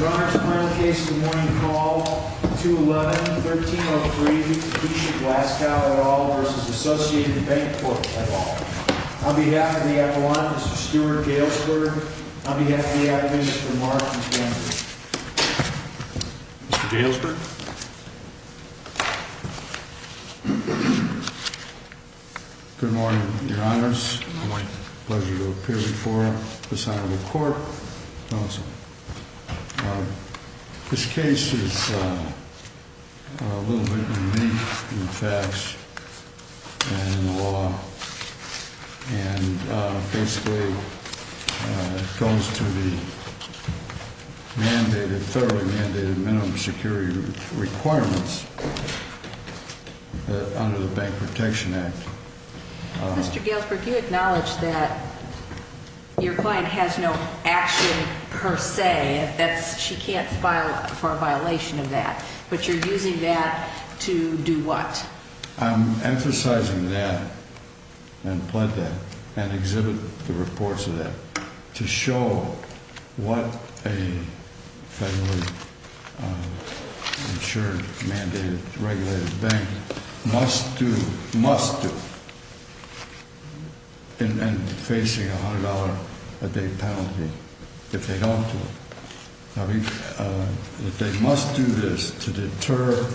Your Honors, final case of the morning, call 211-1303, Keisha Blaskow et al. v. Associated Banc-Corp et al. On behalf of the Appellant, Mr. Stuart Galesburg. On behalf of the Attorneys, Mr. Mark McKenzie. Mr. Galesburg. Good morning, Your Honors. My pleasure to appear before the Senate of the Court. Mr. Galesburg. This case is a little bit unique in the facts and in the law. And basically it goes to the mandated, federally mandated minimum security requirements under the Bank Protection Act. Mr. Galesburg, you acknowledge that your client has no action per se. She can't file for a violation of that. But you're using that to do what? I'm emphasizing that and pled that and exhibit the reports of that to show what a federally insured, mandated, regulated bank must do, must do, in facing a $100 a day penalty if they don't do it. They must do this to deter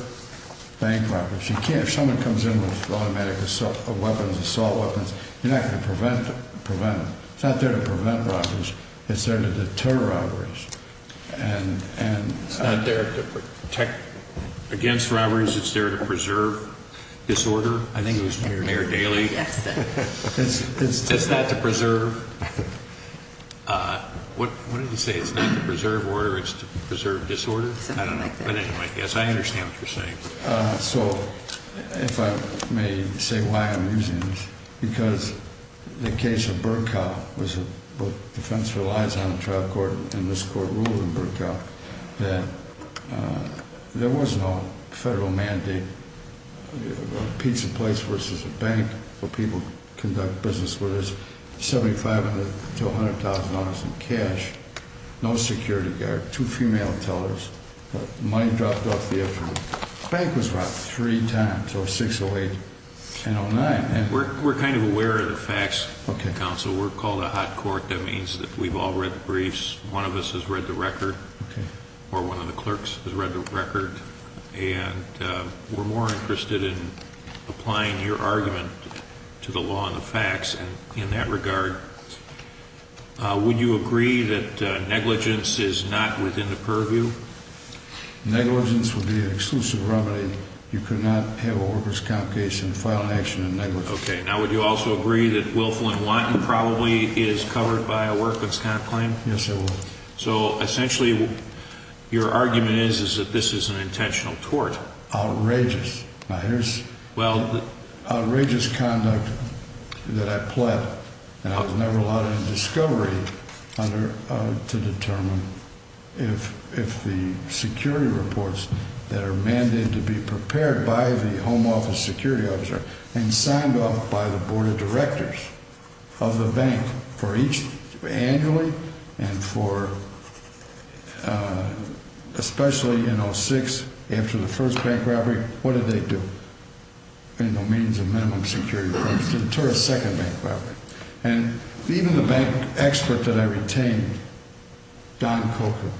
bank robberies. If someone comes in with automatic assault weapons, you're not going to prevent them. It's not there to prevent robberies. It's there to deter robberies. It's not there to protect against robberies. It's there to preserve disorder. I think it was Mayor Daley. It's not to preserve. What did he say? It's not to preserve order. It's to preserve disorder. I don't know. But anyway, yes, I understand what you're saying. So if I may say why I'm using this. Because the case of Burkow was a defense relies on a trial court, and this court ruled in Burkow that there was no federal mandate, a pizza place versus a bank where people conduct business where there's $75,000 to $100,000 in cash, no security guard, two female tellers, money dropped off the edge. The bank was robbed three times, so 608 and 09. We're kind of aware of the facts, Counsel. We're called a hot court. That means that we've all read the briefs. One of us has read the record, or one of the clerks has read the record. And we're more interested in applying your argument to the law and the facts in that regard. Would you agree that negligence is not within the purview? Negligence would be an exclusive remedy. You could not have a workman's comp case and file an action in negligence. Okay. Now, would you also agree that Willful and Wanton probably is covered by a workman's comp claim? Yes, I would. So, essentially, your argument is that this is an intentional tort. Outrageous. Now, here's outrageous conduct that I pled, and I was never allowed in discovery to determine if the security reports that are mandated to be prepared by the home office security officer and signed off by the board of directors of the bank for each annually and for especially in 06 after the first bank robbery. What did they do in the means of minimum security to deter a second bank robbery? And even the bank expert that I retained, Don Coco.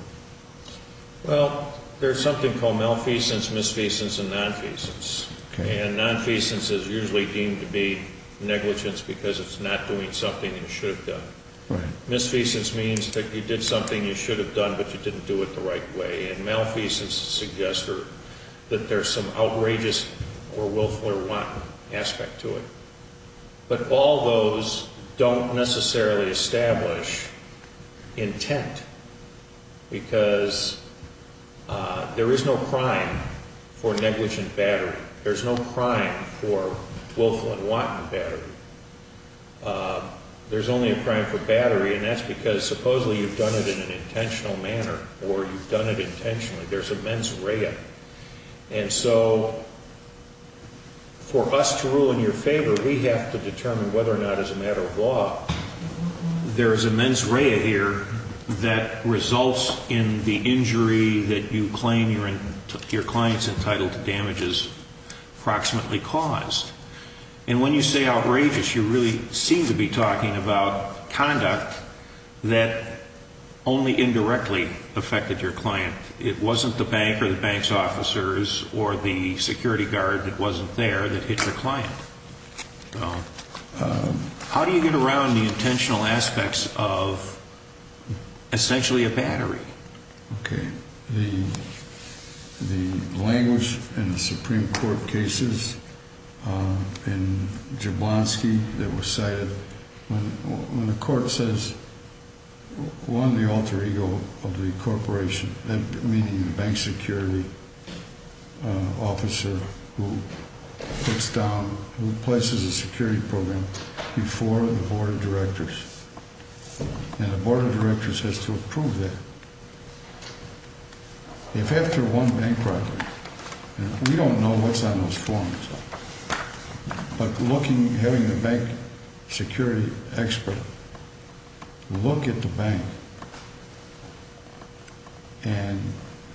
Well, there's something called malfeasance, misfeasance, and nonfeasance. Okay. And nonfeasance is usually deemed to be negligence because it's not doing something it should have done. Misfeasance means that you did something you should have done, but you didn't do it the right way. And malfeasance suggests that there's some outrageous or willful or wanton aspect to it. But all those don't necessarily establish intent because there is no crime for negligent battery. There's no crime for willful and wanton battery. There's only a crime for battery, and that's because supposedly you've done it in an intentional manner or you've done it intentionally. There's a mens rea. And so for us to rule in your favor, we have to determine whether or not as a matter of law, there is a mens rea here that results in the injury that you claim your client's entitled to damage is approximately caused. And when you say outrageous, you really seem to be talking about conduct that only indirectly affected your client. It wasn't the bank or the bank's officers or the security guard that wasn't there that hit your client. How do you get around the intentional aspects of essentially a battery? Okay. The language in the Supreme Court cases in Jablonski that were cited, when the court says, one, the alter ego of the corporation, meaning the bank security officer who puts down, who places a security program before the board of directors, and the board of directors has to approve that. If after one bank record, and we don't know what's on those forms, but looking, having the bank security expert look at the bank and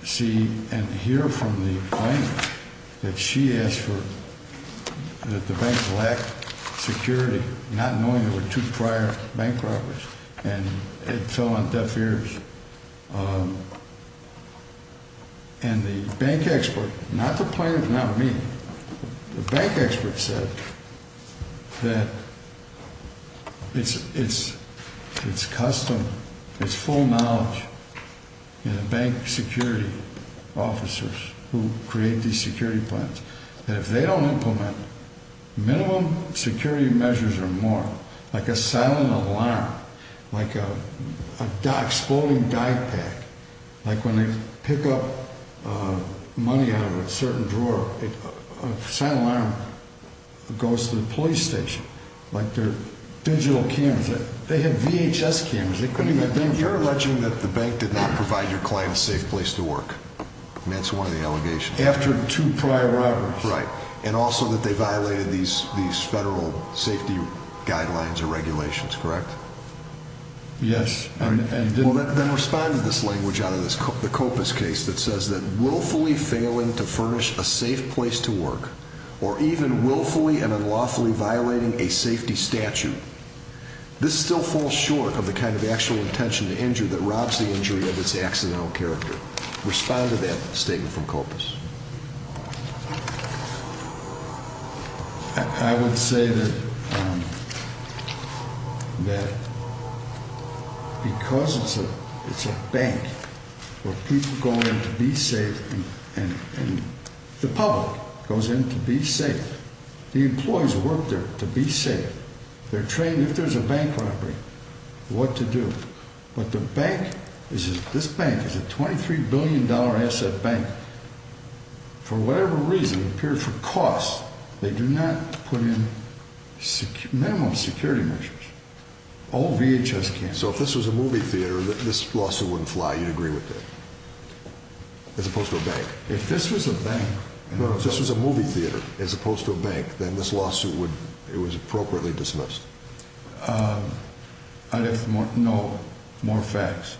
see and hear from the plaintiff that she asked for, that the bank lacked security, not knowing there were two prior bank robbers, and it fell on deaf ears. And the bank expert, not the plaintiff, not me, the bank expert said that it's custom, it's full knowledge in the bank security officers who create these security plans that if they don't implement minimum security measures or more, like a silent alarm, like an exploding die pack, like when they pick up money out of a certain drawer, a silent alarm goes to the police station, like their digital cameras. They had VHS cameras. You're alleging that the bank did not provide your client a safe place to work. That's one of the allegations. After two prior robberies. Right, and also that they violated these federal safety guidelines or regulations, correct? Yes. Well, then respond to this language out of the Copas case that says that willfully failing to furnish a safe place to work, or even willfully and unlawfully violating a safety statute, this still falls short of the kind of actual intention to injure that robs the injury of its accidental character. Respond to that statement from Copas. I would say that because it's a bank where people go in to be safe and the public goes in to be safe, the employees work there to be safe. They're trained, if there's a bank robbery, what to do. But the bank, this bank is a $23 billion asset bank. For whatever reason, it appeared for cost, they do not put in minimum security measures. All VHS cameras. So if this was a movie theater, this lawsuit wouldn't fly, you'd agree with that? As opposed to a bank? If this was a bank. But if this was a movie theater as opposed to a bank, then this lawsuit would, it was appropriately dismissed. I'd have to know more facts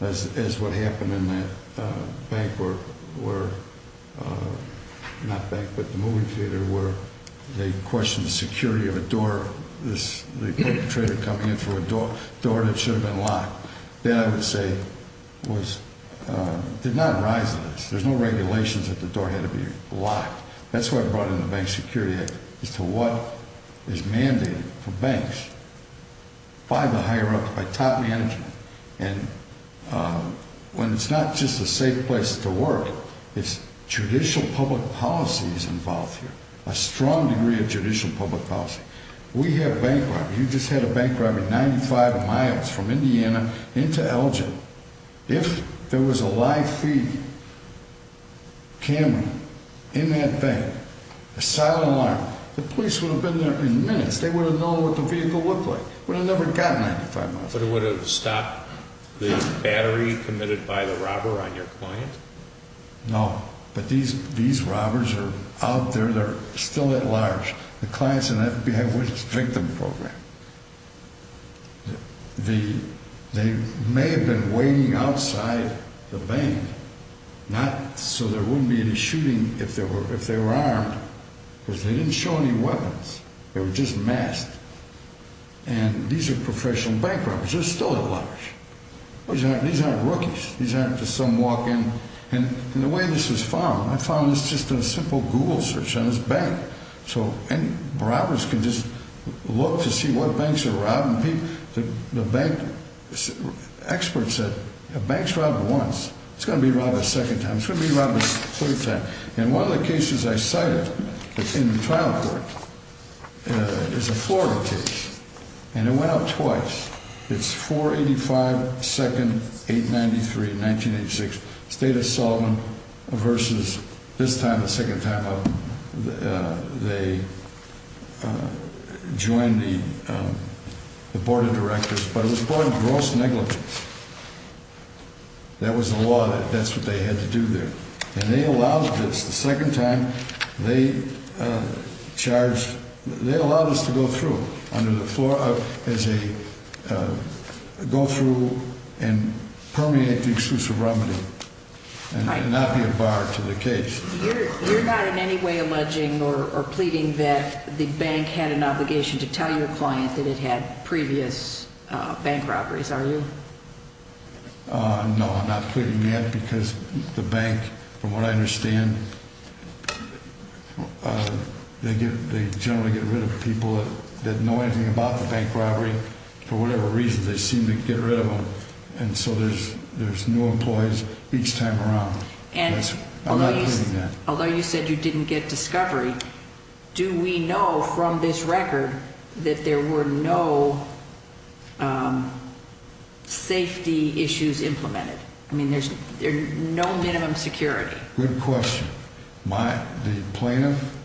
as to what happened in that bank where, not bank, but the movie theater, where they questioned the security of a door, the perpetrator coming in through a door that should have been locked. That, I would say, did not arise in this. There's no regulations that the door had to be locked. That's why I brought in the Bank Security Act, as to what is mandated for banks by the higher ups, by top management. And when it's not just a safe place to work, it's judicial public policy is involved here. A strong degree of judicial public policy. We had a bank robbery. You just had a bank robbery 95 miles from Indiana into Elgin. If there was a live feed camera in that bank, a silent alarm, the police would have been there in minutes. They would have known what the vehicle looked like. Would have never gotten it 95 miles from there. But it would have stopped the battery committed by the robber on your client? No. But these robbers are out there. They're still at large. The clients in that, we have a victim program. They may have been waiting outside the bank, not so there wouldn't be any shooting if they were armed. Because they didn't show any weapons. They were just masked. And these are professional bank robbers. They're still at large. These aren't rookies. These aren't just some walk-in. And the way this was found, I found this just in a simple Google search on this bank. Robbers can just look to see what banks are robbing people. The bank experts said, if a bank's robbed once, it's going to be robbed a second time. It's going to be robbed a third time. And one of the cases I cited in the trial court is a Florida case. And it went up twice. It's 485-2-893-1986. Stata-Sullivan versus this time, the second time they joined the board of directors. But it was brought in gross negligence. That was the law. That's what they had to do there. And they allowed this the second time. They allowed us to go through and permeate the exclusive remedy and not be a bar to the case. You're not in any way alleging or pleading that the bank had an obligation to tell your client that it had previous bank robberies, are you? No, I'm not pleading that. I'm not pleading that because the bank, from what I understand, they generally get rid of people that know anything about the bank robbery. For whatever reason, they seem to get rid of them. And so there's new employees each time around. I'm not pleading that. Although you said you didn't get discovery, do we know from this record that there were no safety issues implemented? I mean, there's no minimum security. Good question. The plaintiff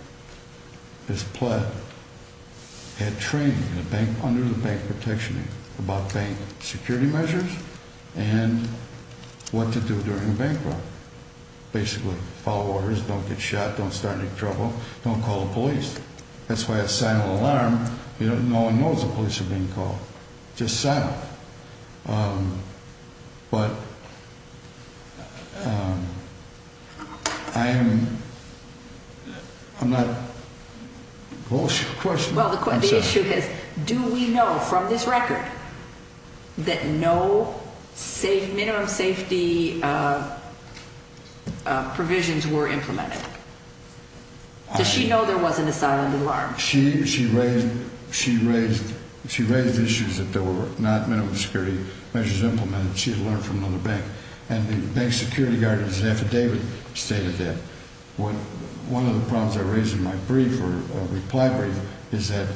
is pled, had training under the Bank Protection Act about bank security measures and what to do during a bank robbery. Basically, follow orders, don't get shot, don't start any trouble, don't call the police. That's why a silent alarm, no one knows the police are being called. Just silent. But I am, I'm not, what was your question? Well, the issue is, do we know from this record that no safe, minimum safety provisions were implemented? Does she know there wasn't a silent alarm? She raised issues that there were not minimum security measures implemented. She had learned from another bank. And the bank security guard in his affidavit stated that. One of the problems I raised in my brief, or reply brief, is that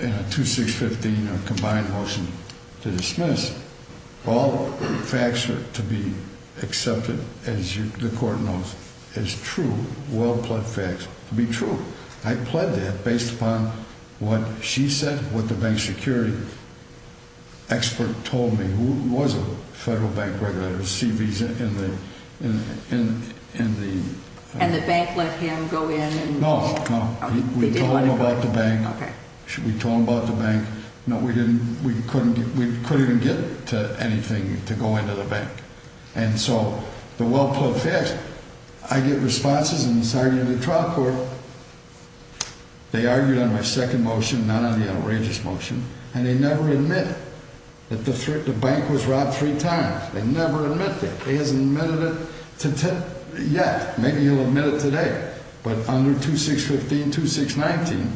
in a 2-6-15 combined motion to dismiss, all facts are to be accepted, as the court knows, as true, well-pled facts to be true. I pled that based upon what she said, what the bank security expert told me, who was a federal bank regulator with CVs in the... And the bank let him go in? No, no. We told him about the bank. We told him about the bank. No, we couldn't even get to anything to go into the bank. And so, the well-pled facts, I get responses in this argument in the trial court. They argued on my second motion, not on the outrageous motion, and they never admit that the bank was robbed three times. They never admit that. He hasn't admitted it yet. Maybe he'll admit it today. But under 2-6-15, 2-6-19,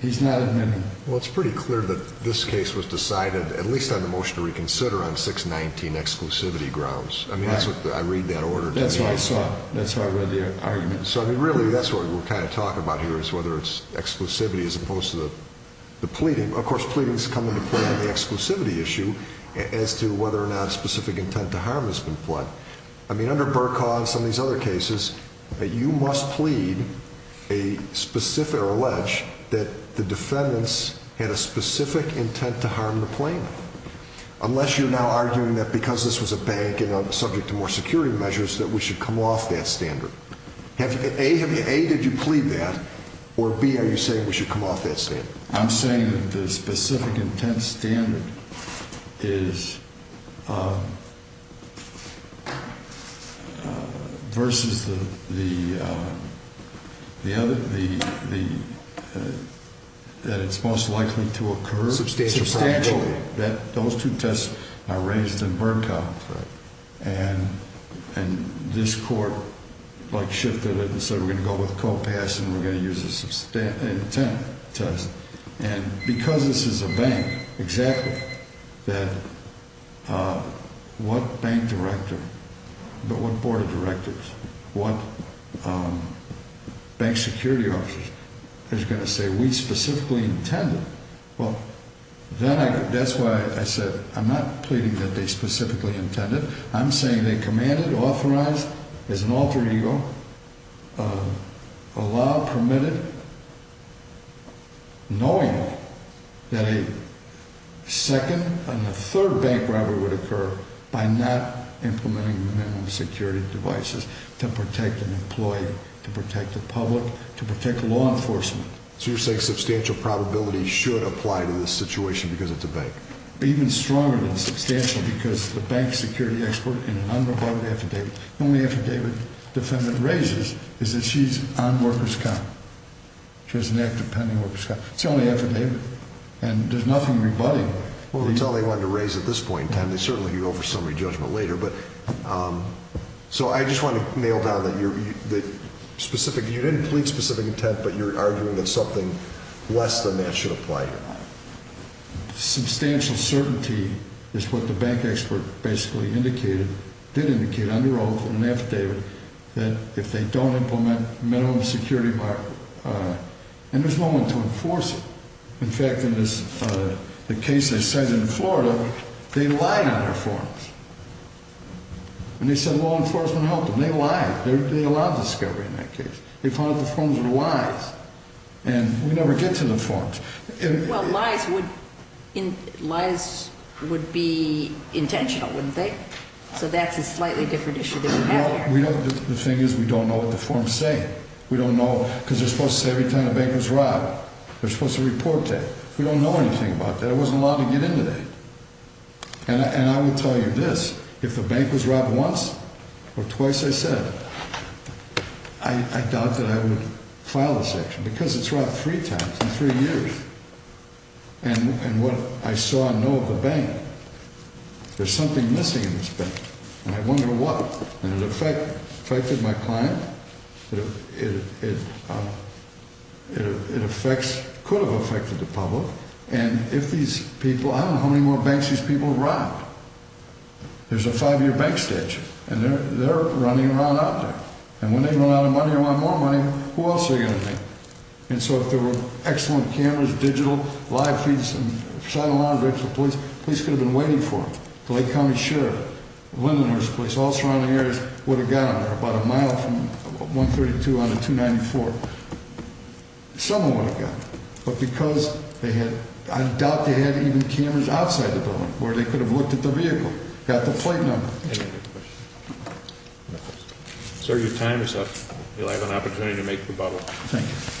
he's not admitting. Well, it's pretty clear that this case was decided, at least on the motion to reconsider, on 6-19 exclusivity grounds. I mean, that's what I read that order to me. That's what I saw. That's how I read the argument. So, I mean, really, that's what we're kind of talking about here, is whether it's exclusivity as opposed to the pleading. Of course, pleadings come into play on the exclusivity issue as to whether or not specific intent to harm has been pled. I mean, under Burkhardt and some of these other cases, you must plead a specific or allege that the defendants had a specific intent to harm the plaintiff, unless you're now arguing that because this was a bank and subject to more security measures, that we should come off that standard. A, did you plead that, or B, are you saying we should come off that standard? I'm saying that the specific intent standard is versus the other, that it's most likely to occur. Substantially. Those two tests are raised in Burkhardt. And this court, like, shifted it and said we're going to go with co-pass and we're going to use the intent test. And because this is a bank, exactly, that what bank director, but what board of directors, what bank security officers is going to say we specifically intended. Well, that's why I said I'm not pleading that they specifically intended. I'm saying they commanded, authorized, as an alter ego, allowed, permitted, knowing that a second and a third bank robbery would occur by not implementing minimum security devices to protect an employee, to protect the public, to protect law enforcement. So you're saying substantial probability should apply to this situation because it's a bank. Even stronger than substantial because the bank security expert in an unreported affidavit, the only affidavit the defendant raises is that she's on workers' comp. She has an active pending workers' comp. It's the only affidavit. And there's nothing rebutting. Well, until they wanted to raise it at this point in time, they certainly could go for summary judgment later. But, so I just want to nail down that you're, that specific, you didn't plead specific intent, but you're arguing that something less than that should apply here. Substantial certainty is what the bank expert basically indicated, did indicate under oath in an affidavit, that if they don't implement minimum security, and there's no one to enforce it. In fact, in the case they cited in Florida, they lied on their forms. And they said law enforcement helped them. They lied. They allowed discovery in that case. They found that the forms were lies. And we never get to the forms. Well, lies would, lies would be intentional, wouldn't they? So that's a slightly different issue than we have here. Well, we don't, the thing is we don't know what the forms say. We don't know, because they're supposed to say every time the bank was robbed, they're supposed to report that. We don't know anything about that. I wasn't allowed to get into that. And I will tell you this. If the bank was robbed once or twice, I said, I doubt that I would file this action, because it's robbed three times in three years. And what I saw and know of the bank, there's something missing in this bank. And I wonder what. And it affected my client. It affects, could have affected the public. And if these people, I don't know how many more banks these people robbed. There's a five-year bank statute, and they're running around out there. And when they run out of money or want more money, who else are they going to think? And so if there were excellent cameras, digital, live feeds, and a solid line of records for the police, the police could have been waiting for them. The Lake County Sheriff, Lindenhurst police, all surrounding areas would have gotten there, about a mile from 132 onto 294. Someone would have gotten there. But because they had, I doubt they had even cameras outside the building where they could have looked at the vehicle, got the plate number. Any other questions? Sir, your time is up. You'll have an opportunity to make rebuttal. Thank you. Thank you.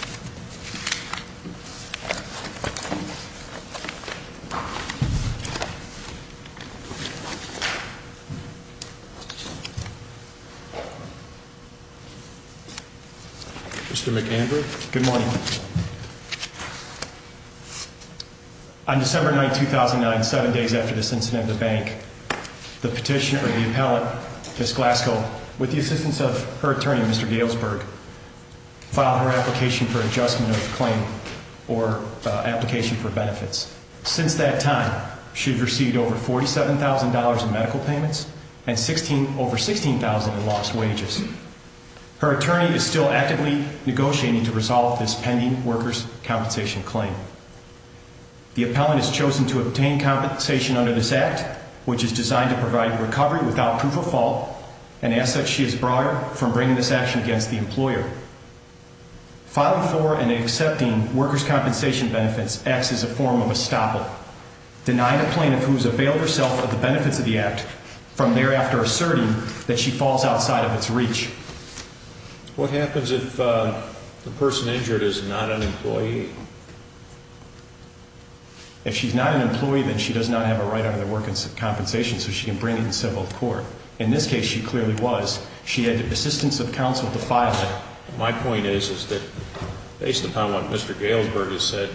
Mr. McAndrew. Good morning. On December 9, 2009, seven days after this incident at the bank, the petitioner, the appellant, Ms. Glasgow, with the assistance of her attorney, Mr. Galesburg, filed her application for adjustment of claim or application for benefits. Since that time, she has received over $47,000 in medical payments and over $16,000 in lost wages. Her attorney is still actively negotiating to resolve this pending workers' compensation claim. The appellant has chosen to obtain compensation under this act, which is designed to provide recovery without proof of fault, an asset she has borrowed from bringing this action against the employer. Filing for and accepting workers' compensation benefits acts as a form of estoppel, denying a plaintiff who has availed herself of the benefits of the act, from thereafter asserting that she falls outside of its reach. What happens if the person injured is not an employee? If she's not an employee, then she does not have a right under the workers' compensation, so she can bring it in civil court. In this case, she clearly was. She had the assistance of counsel to file it. My point is, is that based upon what Mr. Galesburg has said,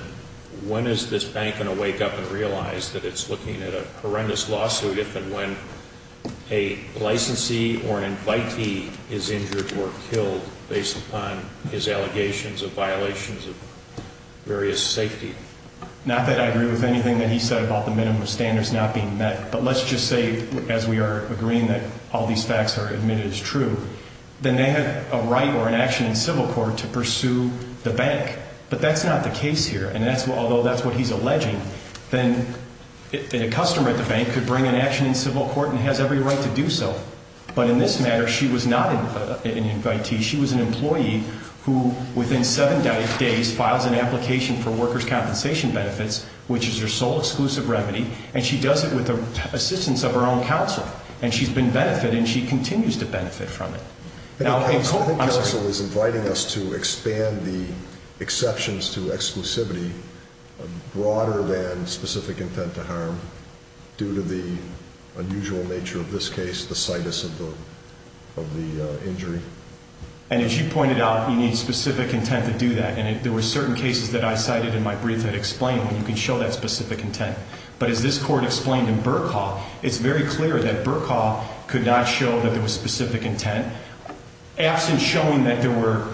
when is this bank going to wake up and realize that it's looking at a horrendous lawsuit if and when a licensee or an invitee is injured or killed based upon his allegations of violations of various safety? Not that I agree with anything that he said about the minimum standards not being met, but let's just say, as we are agreeing that all these facts are admitted as true, then they have a right or an action in civil court to pursue the bank. But that's not the case here, and although that's what he's alleging, then a customer at the bank could bring an action in civil court and has every right to do so. But in this matter, she was not an invitee. She was an employee who, within seven days, files an application for workers' compensation benefits, which is your sole exclusive remedy, and she does it with the assistance of her own counsel, and she's been benefited, and she continues to benefit from it. I think counsel is inviting us to expand the exceptions to exclusivity broader than specific intent to harm due to the unusual nature of this case, the situs of the injury. And as you pointed out, you need specific intent to do that, and there were certain cases that I cited in my brief that explain, and you can show that specific intent. But as this court explained in Burke Hall, it's very clear that Burke Hall could not show that there was specific intent. Absent showing that there were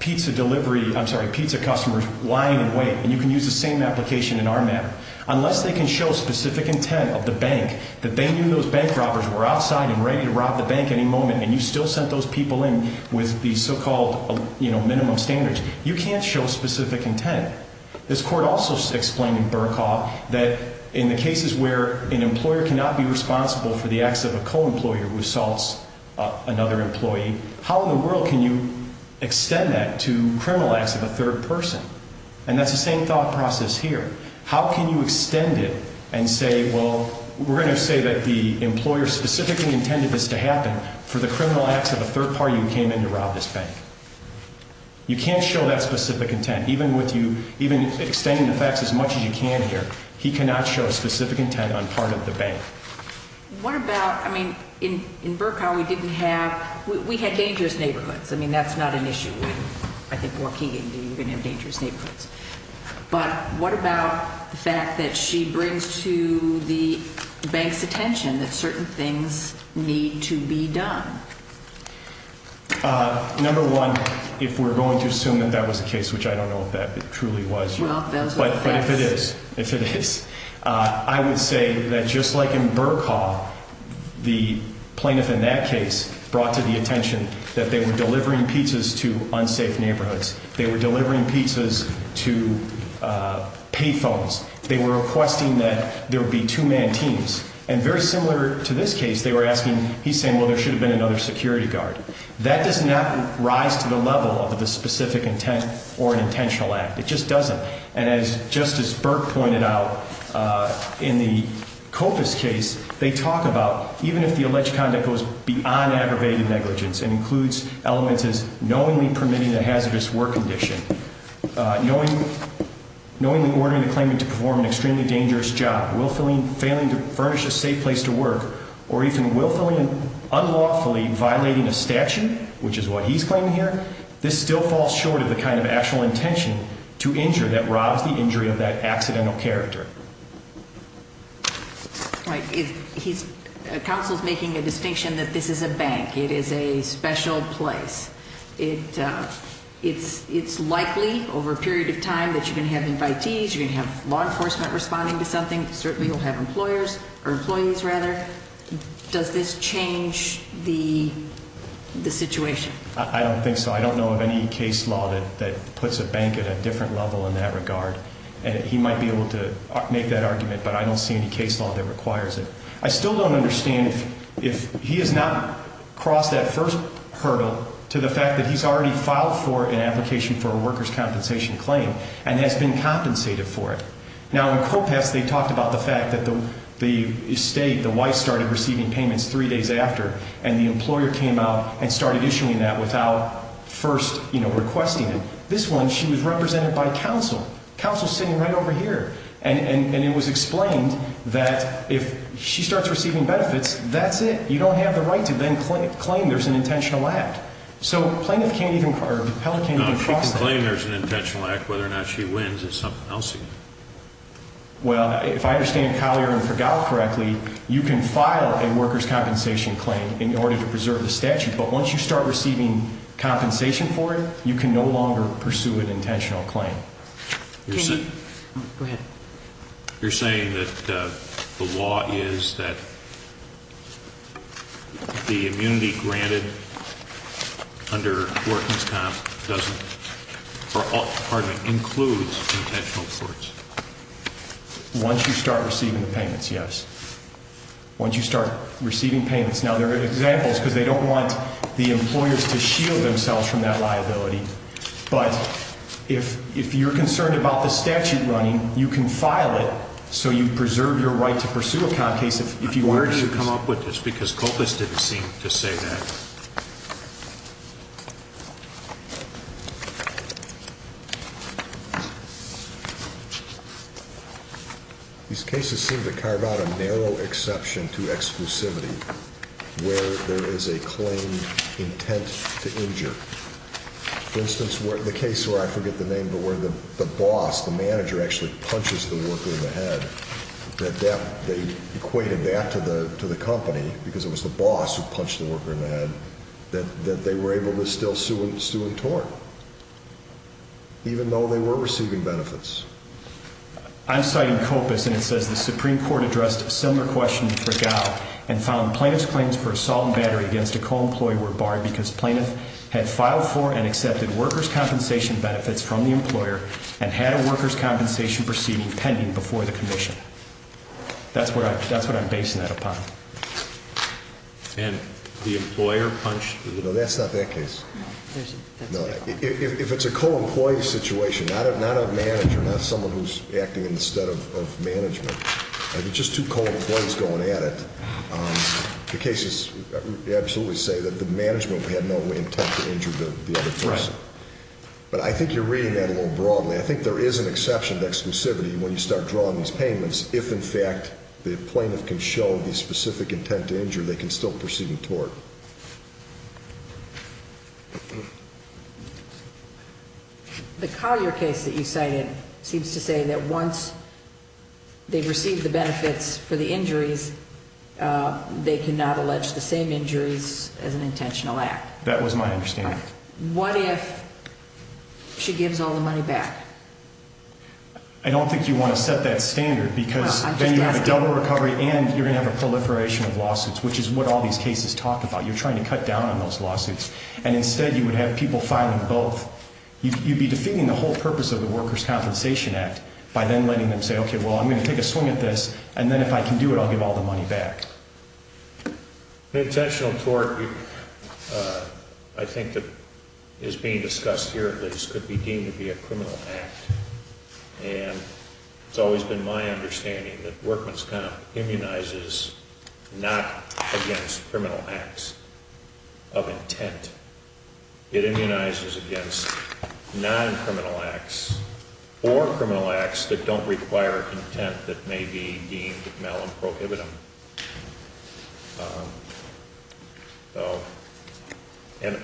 pizza delivery, I'm sorry, pizza customers lying in wait, and you can use the same application in our matter. Unless they can show specific intent of the bank, that they knew those bank robbers were outside and ready to rob the bank any moment, and you still sent those people in with the so-called minimum standards, you can't show specific intent. This court also explained in Burke Hall that in the cases where an employer cannot be responsible for the acts of a co-employer who assaults another employee, how in the world can you extend that to criminal acts of a third person? And that's the same thought process here. How can you extend it and say, well, we're going to say that the employer specifically intended this to happen for the criminal acts of a third party who came in to rob this bank? You can't show that specific intent. Even with you extending the facts as much as you can here, he cannot show specific intent on part of the bank. What about, I mean, in Burke Hall we didn't have, we had dangerous neighborhoods. I mean, that's not an issue with, I think, Waukegan. You're going to have dangerous neighborhoods. But what about the fact that she brings to the bank's attention that certain things need to be done? Number one, if we're going to assume that that was the case, which I don't know if that truly was, but if it is, I would say that just like in Burke Hall, the plaintiff in that case brought to the attention that they were delivering pizzas to unsafe neighborhoods. They were delivering pizzas to pay phones. They were requesting that there be two-man teams. And very similar to this case, they were asking, he's saying, well, there should have been another security guard. That does not rise to the level of the specific intent or an intentional act. It just doesn't. And as Justice Burke pointed out, in the Copas case, they talk about even if the alleged conduct goes beyond aggravated negligence and includes elements as knowingly permitting a hazardous work condition, knowingly ordering the claimant to perform an extremely dangerous job, willfully failing to furnish a safe place to work, or even willfully unlawfully violating a statute, which is what he's claiming here, this still falls short of the kind of actual intention to injure that robs the injury of that accidental character. Right. Counsel's making a distinction that this is a bank. It is a special place. It's likely over a period of time that you're going to have invitees, you're going to have law enforcement responding to something, certainly you'll have employers or employees, rather. Does this change the situation? I don't think so. I don't know of any case law that puts a bank at a different level in that regard. And he might be able to make that argument, but I don't see any case law that requires it. I still don't understand if he has not crossed that first hurdle to the fact that he's already filed for an and has been compensated for it. Now, in Copass, they talked about the fact that the state, the wife, started receiving payments three days after, and the employer came out and started issuing that without first requesting it. This one, she was represented by counsel. Counsel's sitting right over here. And it was explained that if she starts receiving benefits, that's it. You don't have the right to then claim there's an intentional act. So plaintiff can't even, or appellate can't even cross that. Now, if she can claim there's an intentional act, whether or not she wins, it's something else again. Well, if I understand Collier and Fregal correctly, you can file a workers' compensation claim in order to preserve the statute, but once you start receiving compensation for it, you can no longer pursue an intentional claim. Go ahead. You're saying that the law is that the immunity granted under workings comp doesn't, or pardon me, includes intentional courts? Once you start receiving the payments, yes. Once you start receiving payments. Now, there are examples because they don't want the employers to shield themselves from that liability. But if you're concerned about the statute running, you can file it so you preserve your right to pursue a comp case. Where did you come up with this? Because Coppice didn't seem to say that. These cases seem to carve out a narrow exception to exclusivity where there is a claimed intent to injure. For instance, the case where, I forget the name, but where the boss, the manager, actually punches the worker in the head, that they equated that to the company because it was the boss who punched the worker in the head, that they were able to still sue and tort. Even though they were receiving benefits. I'm citing Coppice, and it says the Supreme Court addressed a similar question for Gow and found the plaintiff's claims for assault and battery against a co-employee were barred because the plaintiff had filed for and accepted workers' compensation benefits from the employer and had a workers' compensation proceeding pending before the commission. That's what I'm basing that upon. And the employer punched? No, that's not that case. If it's a co-employee situation, not a manager, not someone who's acting in the stead of management, just two co-employees going at it, the cases absolutely say that the management had no intent to injure the other person. But I think you're reading that a little broadly. I think there is an exception to exclusivity when you start drawing these payments. If, in fact, the plaintiff can show the specific intent to injure, they can still proceed and tort. The Collier case that you cited seems to say that once they've received the benefits for the injuries, they cannot allege the same injuries as an intentional act. That was my understanding. What if she gives all the money back? I don't think you want to set that standard because then you have a double recovery and you're going to have a proliferation of lawsuits, which is what all these cases talk about. You're trying to cut down on those lawsuits, and instead you would have people filing both. You'd be defeating the whole purpose of the Workers' Compensation Act by then letting them say, okay, well, I'm going to take a swing at this, and then if I can do it, I'll give all the money back. Intentional tort, I think that is being discussed here at least, could be deemed to be a criminal act. And it's always been my understanding that Workmen's Comp immunizes not against criminal acts of intent. It immunizes against non-criminal acts or criminal acts that don't require intent that may be deemed mal and prohibitive. And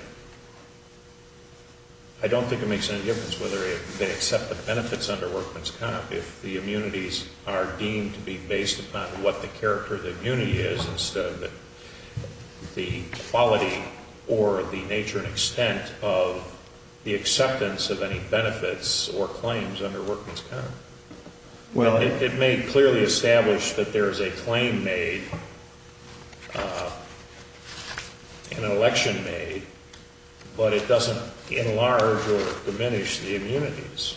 I don't think it makes any difference whether they accept the benefits under Workmen's Comp if the immunities are deemed to be based upon what the character of the immunity is instead of the quality or the nature and extent of the acceptance of any benefits or claims under Workmen's Comp. Well, it may clearly establish that there is a claim made, an election made, but it doesn't enlarge or diminish the immunities.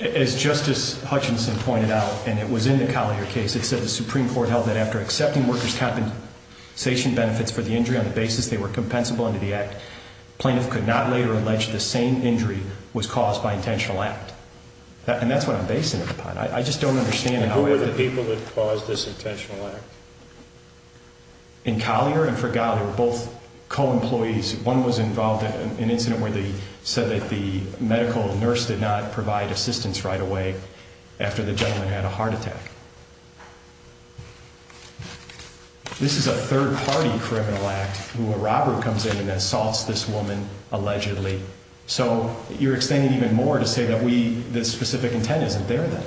As Justice Hutchinson pointed out, and it was in the Collier case, it said the Supreme Court held that after accepting Workers' Compensation benefits for the injury on the basis they were compensable under the act, plaintiff could not later allege the same injury was caused by intentional act. And that's what I'm basing it upon. I just don't understand. And who were the people that caused this intentional act? In Collier and Fregalia, both co-employees. One was involved in an incident where they said that the medical nurse did not provide assistance right away after the gentleman had a heart attack. This is a third-party criminal act where a robber comes in and assaults this woman allegedly. So you're extending even more to say that we, this specific intent isn't there then.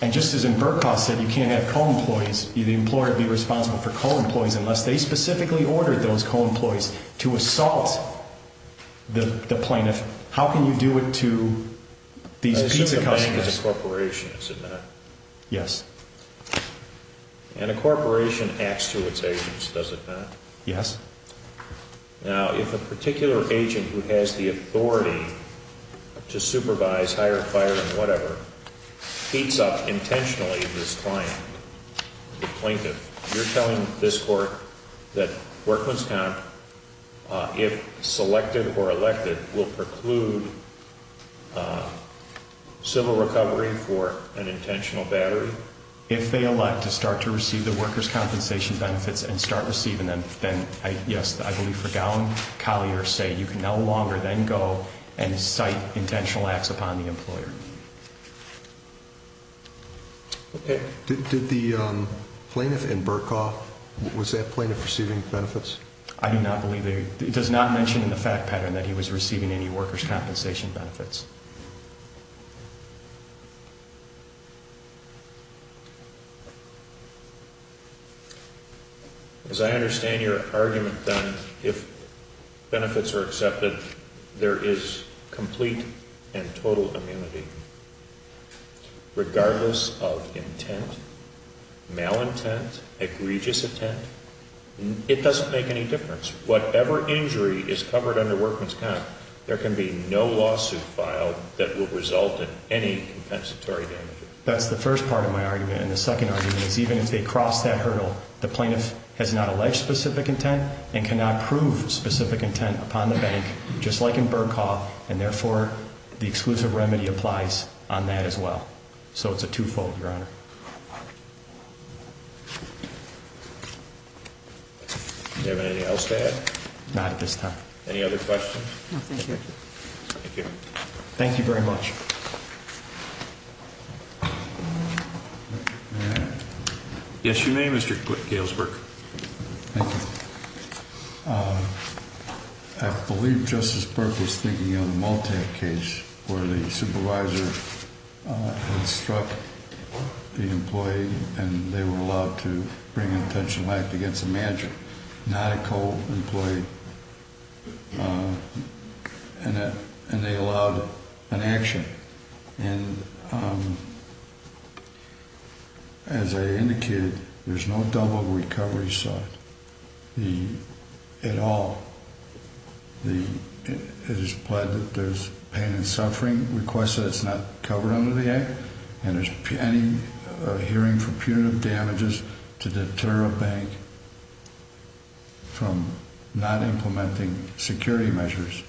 And just as in Bercow said you can't have co-employees, the employer would be responsible for co-employees unless they specifically ordered those co-employees to assault the plaintiff. How can you do it to these pizza customers? The plaintiff is a corporation, is it not? Yes. And a corporation acts through its agents, does it not? Yes. Now, if a particular agent who has the authority to supervise, hire, fire, and whatever, heats up intentionally this client, the plaintiff, you're telling this court that Workman's Comp, if selected or elected, will preclude civil recovery for an intentional battery? If they elect to start to receive the workers' compensation benefits and start receiving them, then yes, I believe Fregalia and Collier say you can no longer then go and cite intentional acts upon the employer. Okay. Did the plaintiff in Bercow, was that plaintiff receiving benefits? I do not believe, it does not mention in the fact pattern that he was receiving any workers' compensation benefits. As I understand your argument, then, if benefits are accepted, there is complete and total immunity, regardless of intent, malintent, egregious intent. It doesn't make any difference. Whatever injury is covered under Workman's Comp, there can be no lawsuit filed, that will result in any compensatory damage. That's the first part of my argument, and the second argument is even if they cross that hurdle, the plaintiff has not alleged specific intent and cannot prove specific intent upon the bank, just like in Bercow, and therefore, the exclusive remedy applies on that as well. So it's a two-fold, Your Honor. Do you have anything else to add? Any other questions? No, thank you. Thank you. Thank you very much. Yes, you may, Mr. Galesburg. Thank you. I believe Justice Burke was thinking of the Multac case, where the supervisor had struck the employee, and they were allowed to bring an intentional act against the manager, not a co-employee. And they allowed an action. And as I indicated, there's no double recovery sought at all. It is implied that there's pain and suffering requested that's not covered under the act, and there's any hearing for punitive damages to deter a bank from not implementing security measures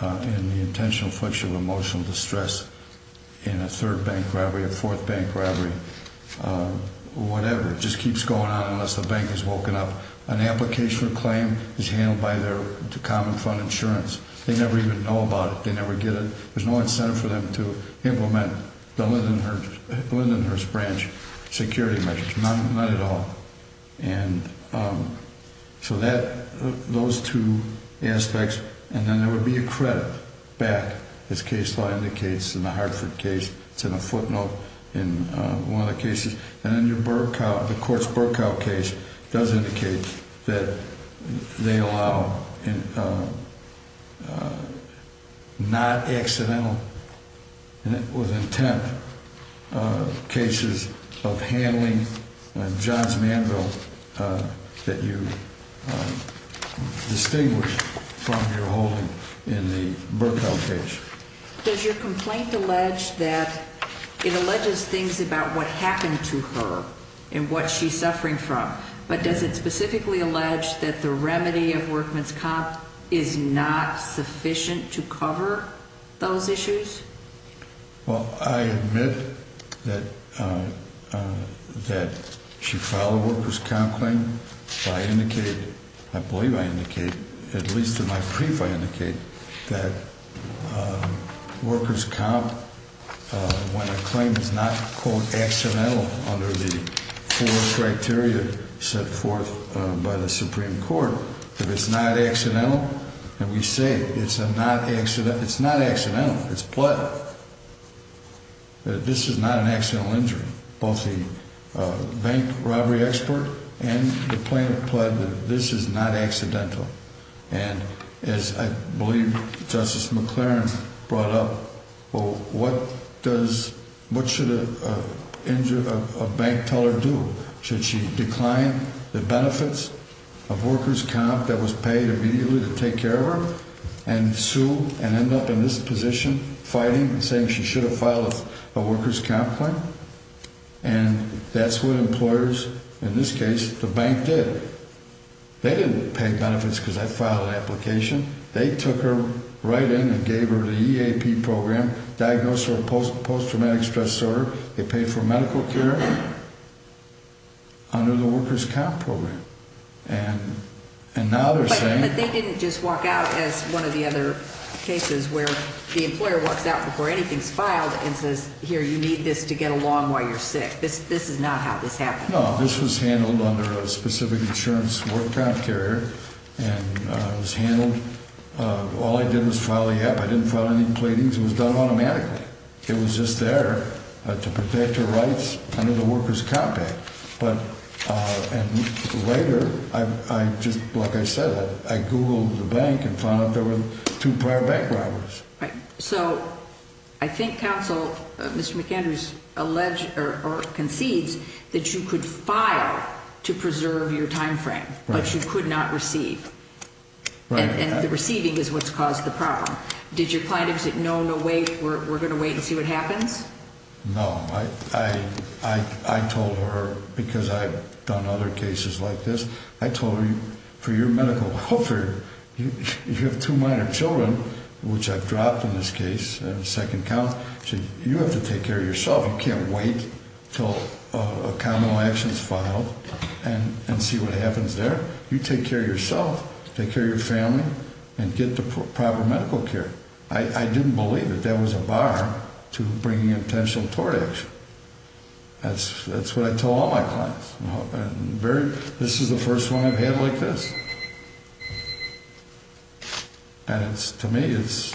in the intentional flexure of emotional distress in a third bank robbery, a fourth bank robbery, whatever. It just keeps going on unless the bank is woken up. An application for claim is handled by their common fund insurance. They never even know about it. They never get it. There's no incentive for them to implement the Lindenhurst branch security measures, none at all. And so those two aspects. And then there would be a credit back, as case law indicates in the Hartford case. It's in a footnote in one of the cases. And then your Burkow, the court's Burkow case does indicate that they allow not accidental, and it was intent, cases of handling John's Manville that you distinguish from your holding in the Burkow case. Does your complaint allege that it alleges things about what happened to her and what she's suffering from, but does it specifically allege that the remedy of workman's comp is not sufficient to cover those issues? Well, I admit that she filed a workman's comp claim. I believe I indicate, at least in my brief, I indicate that worker's comp, when a claim is not, quote, accidental under the four criteria set forth by the Supreme Court, if it's not accidental, and we say it's a not accident, it's not accidental. It's not accidental. It's pled. This is not an accidental injury. Both the bank robbery expert and the plaintiff pled that this is not accidental. And as I believe Justice McLaren brought up, well, what does, what should a bank teller do? Should she decline the benefits of worker's comp that was paid immediately to take care of her and sue and end up in this position fighting and saying she should have filed a worker's comp claim? And that's what employers, in this case, the bank did. They didn't pay benefits because I filed an application. They took her right in and gave her the EAP program, diagnosed her with post-traumatic stress disorder. They paid for medical care under the worker's comp program. And now they're saying- But they didn't just walk out as one of the other cases where the employer walks out before anything's filed and says, here, you need this to get along while you're sick. This is not how this happened. No, this was handled under a specific insurance worker comp carrier. And it was handled, all I did was file the EAP. I didn't file any pleadings. It was done automatically. It was just there to protect her rights under the worker's comp act. And later, like I said, I Googled the bank and found out there were two prior bank robbers. So I think counsel, Mr. McAndrews, concedes that you could file to preserve your time frame, but you could not receive. And the receiving is what's caused the problem. Did your client exit? No, no way. We're going to wait and see what happens? No. I told her, because I've done other cases like this, I told her, for your medical, if you have two minor children, which I've dropped in this case on the second count, you have to take care of yourself. You can't wait until a common law action is filed and see what happens there. You take care of yourself, take care of your family, and get the proper medical care. I didn't believe that there was a bar to bringing a potential tort action. That's what I tell all my clients. This is the first one I've had like this. And to me, it's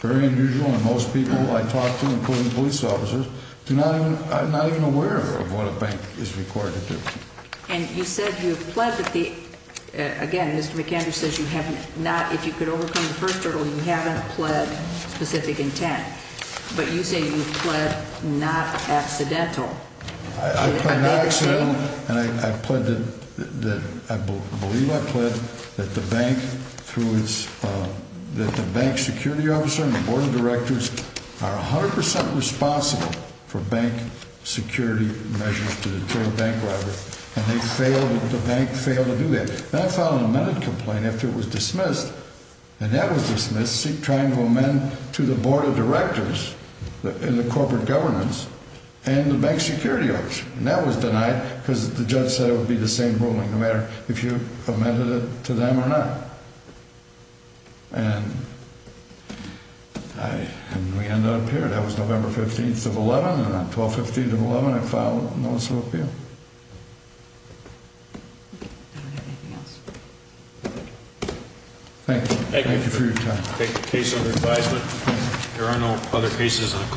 very unusual, and most people I talk to, including police officers, are not even aware of what a bank is required to do. And you said you've pledged that the, again, Mr. McAndrews says you have not, if you could overcome the first hurdle, you haven't pledged specific intent. But you say you've pledged not accidental. I've pledged not accidental, and I've pledged, I believe I've pledged, that the bank through its, that the bank security officer and the board of directors are 100 percent responsible for bank security measures to the bank library, and they failed, the bank failed to do that. And I filed an amended complaint after it was dismissed, and that was dismissed, trying to amend to the board of directors in the corporate governance and the bank security officer. And that was denied because the judge said it would be the same ruling no matter if you amended it to them or not. And I, and we end up here. That was November 15th of 11, and on 12th, 15th of 11, I filed a notice of appeal. Thank you. Thank you for your time. Thank you. Case under advisement. There are no other cases on call.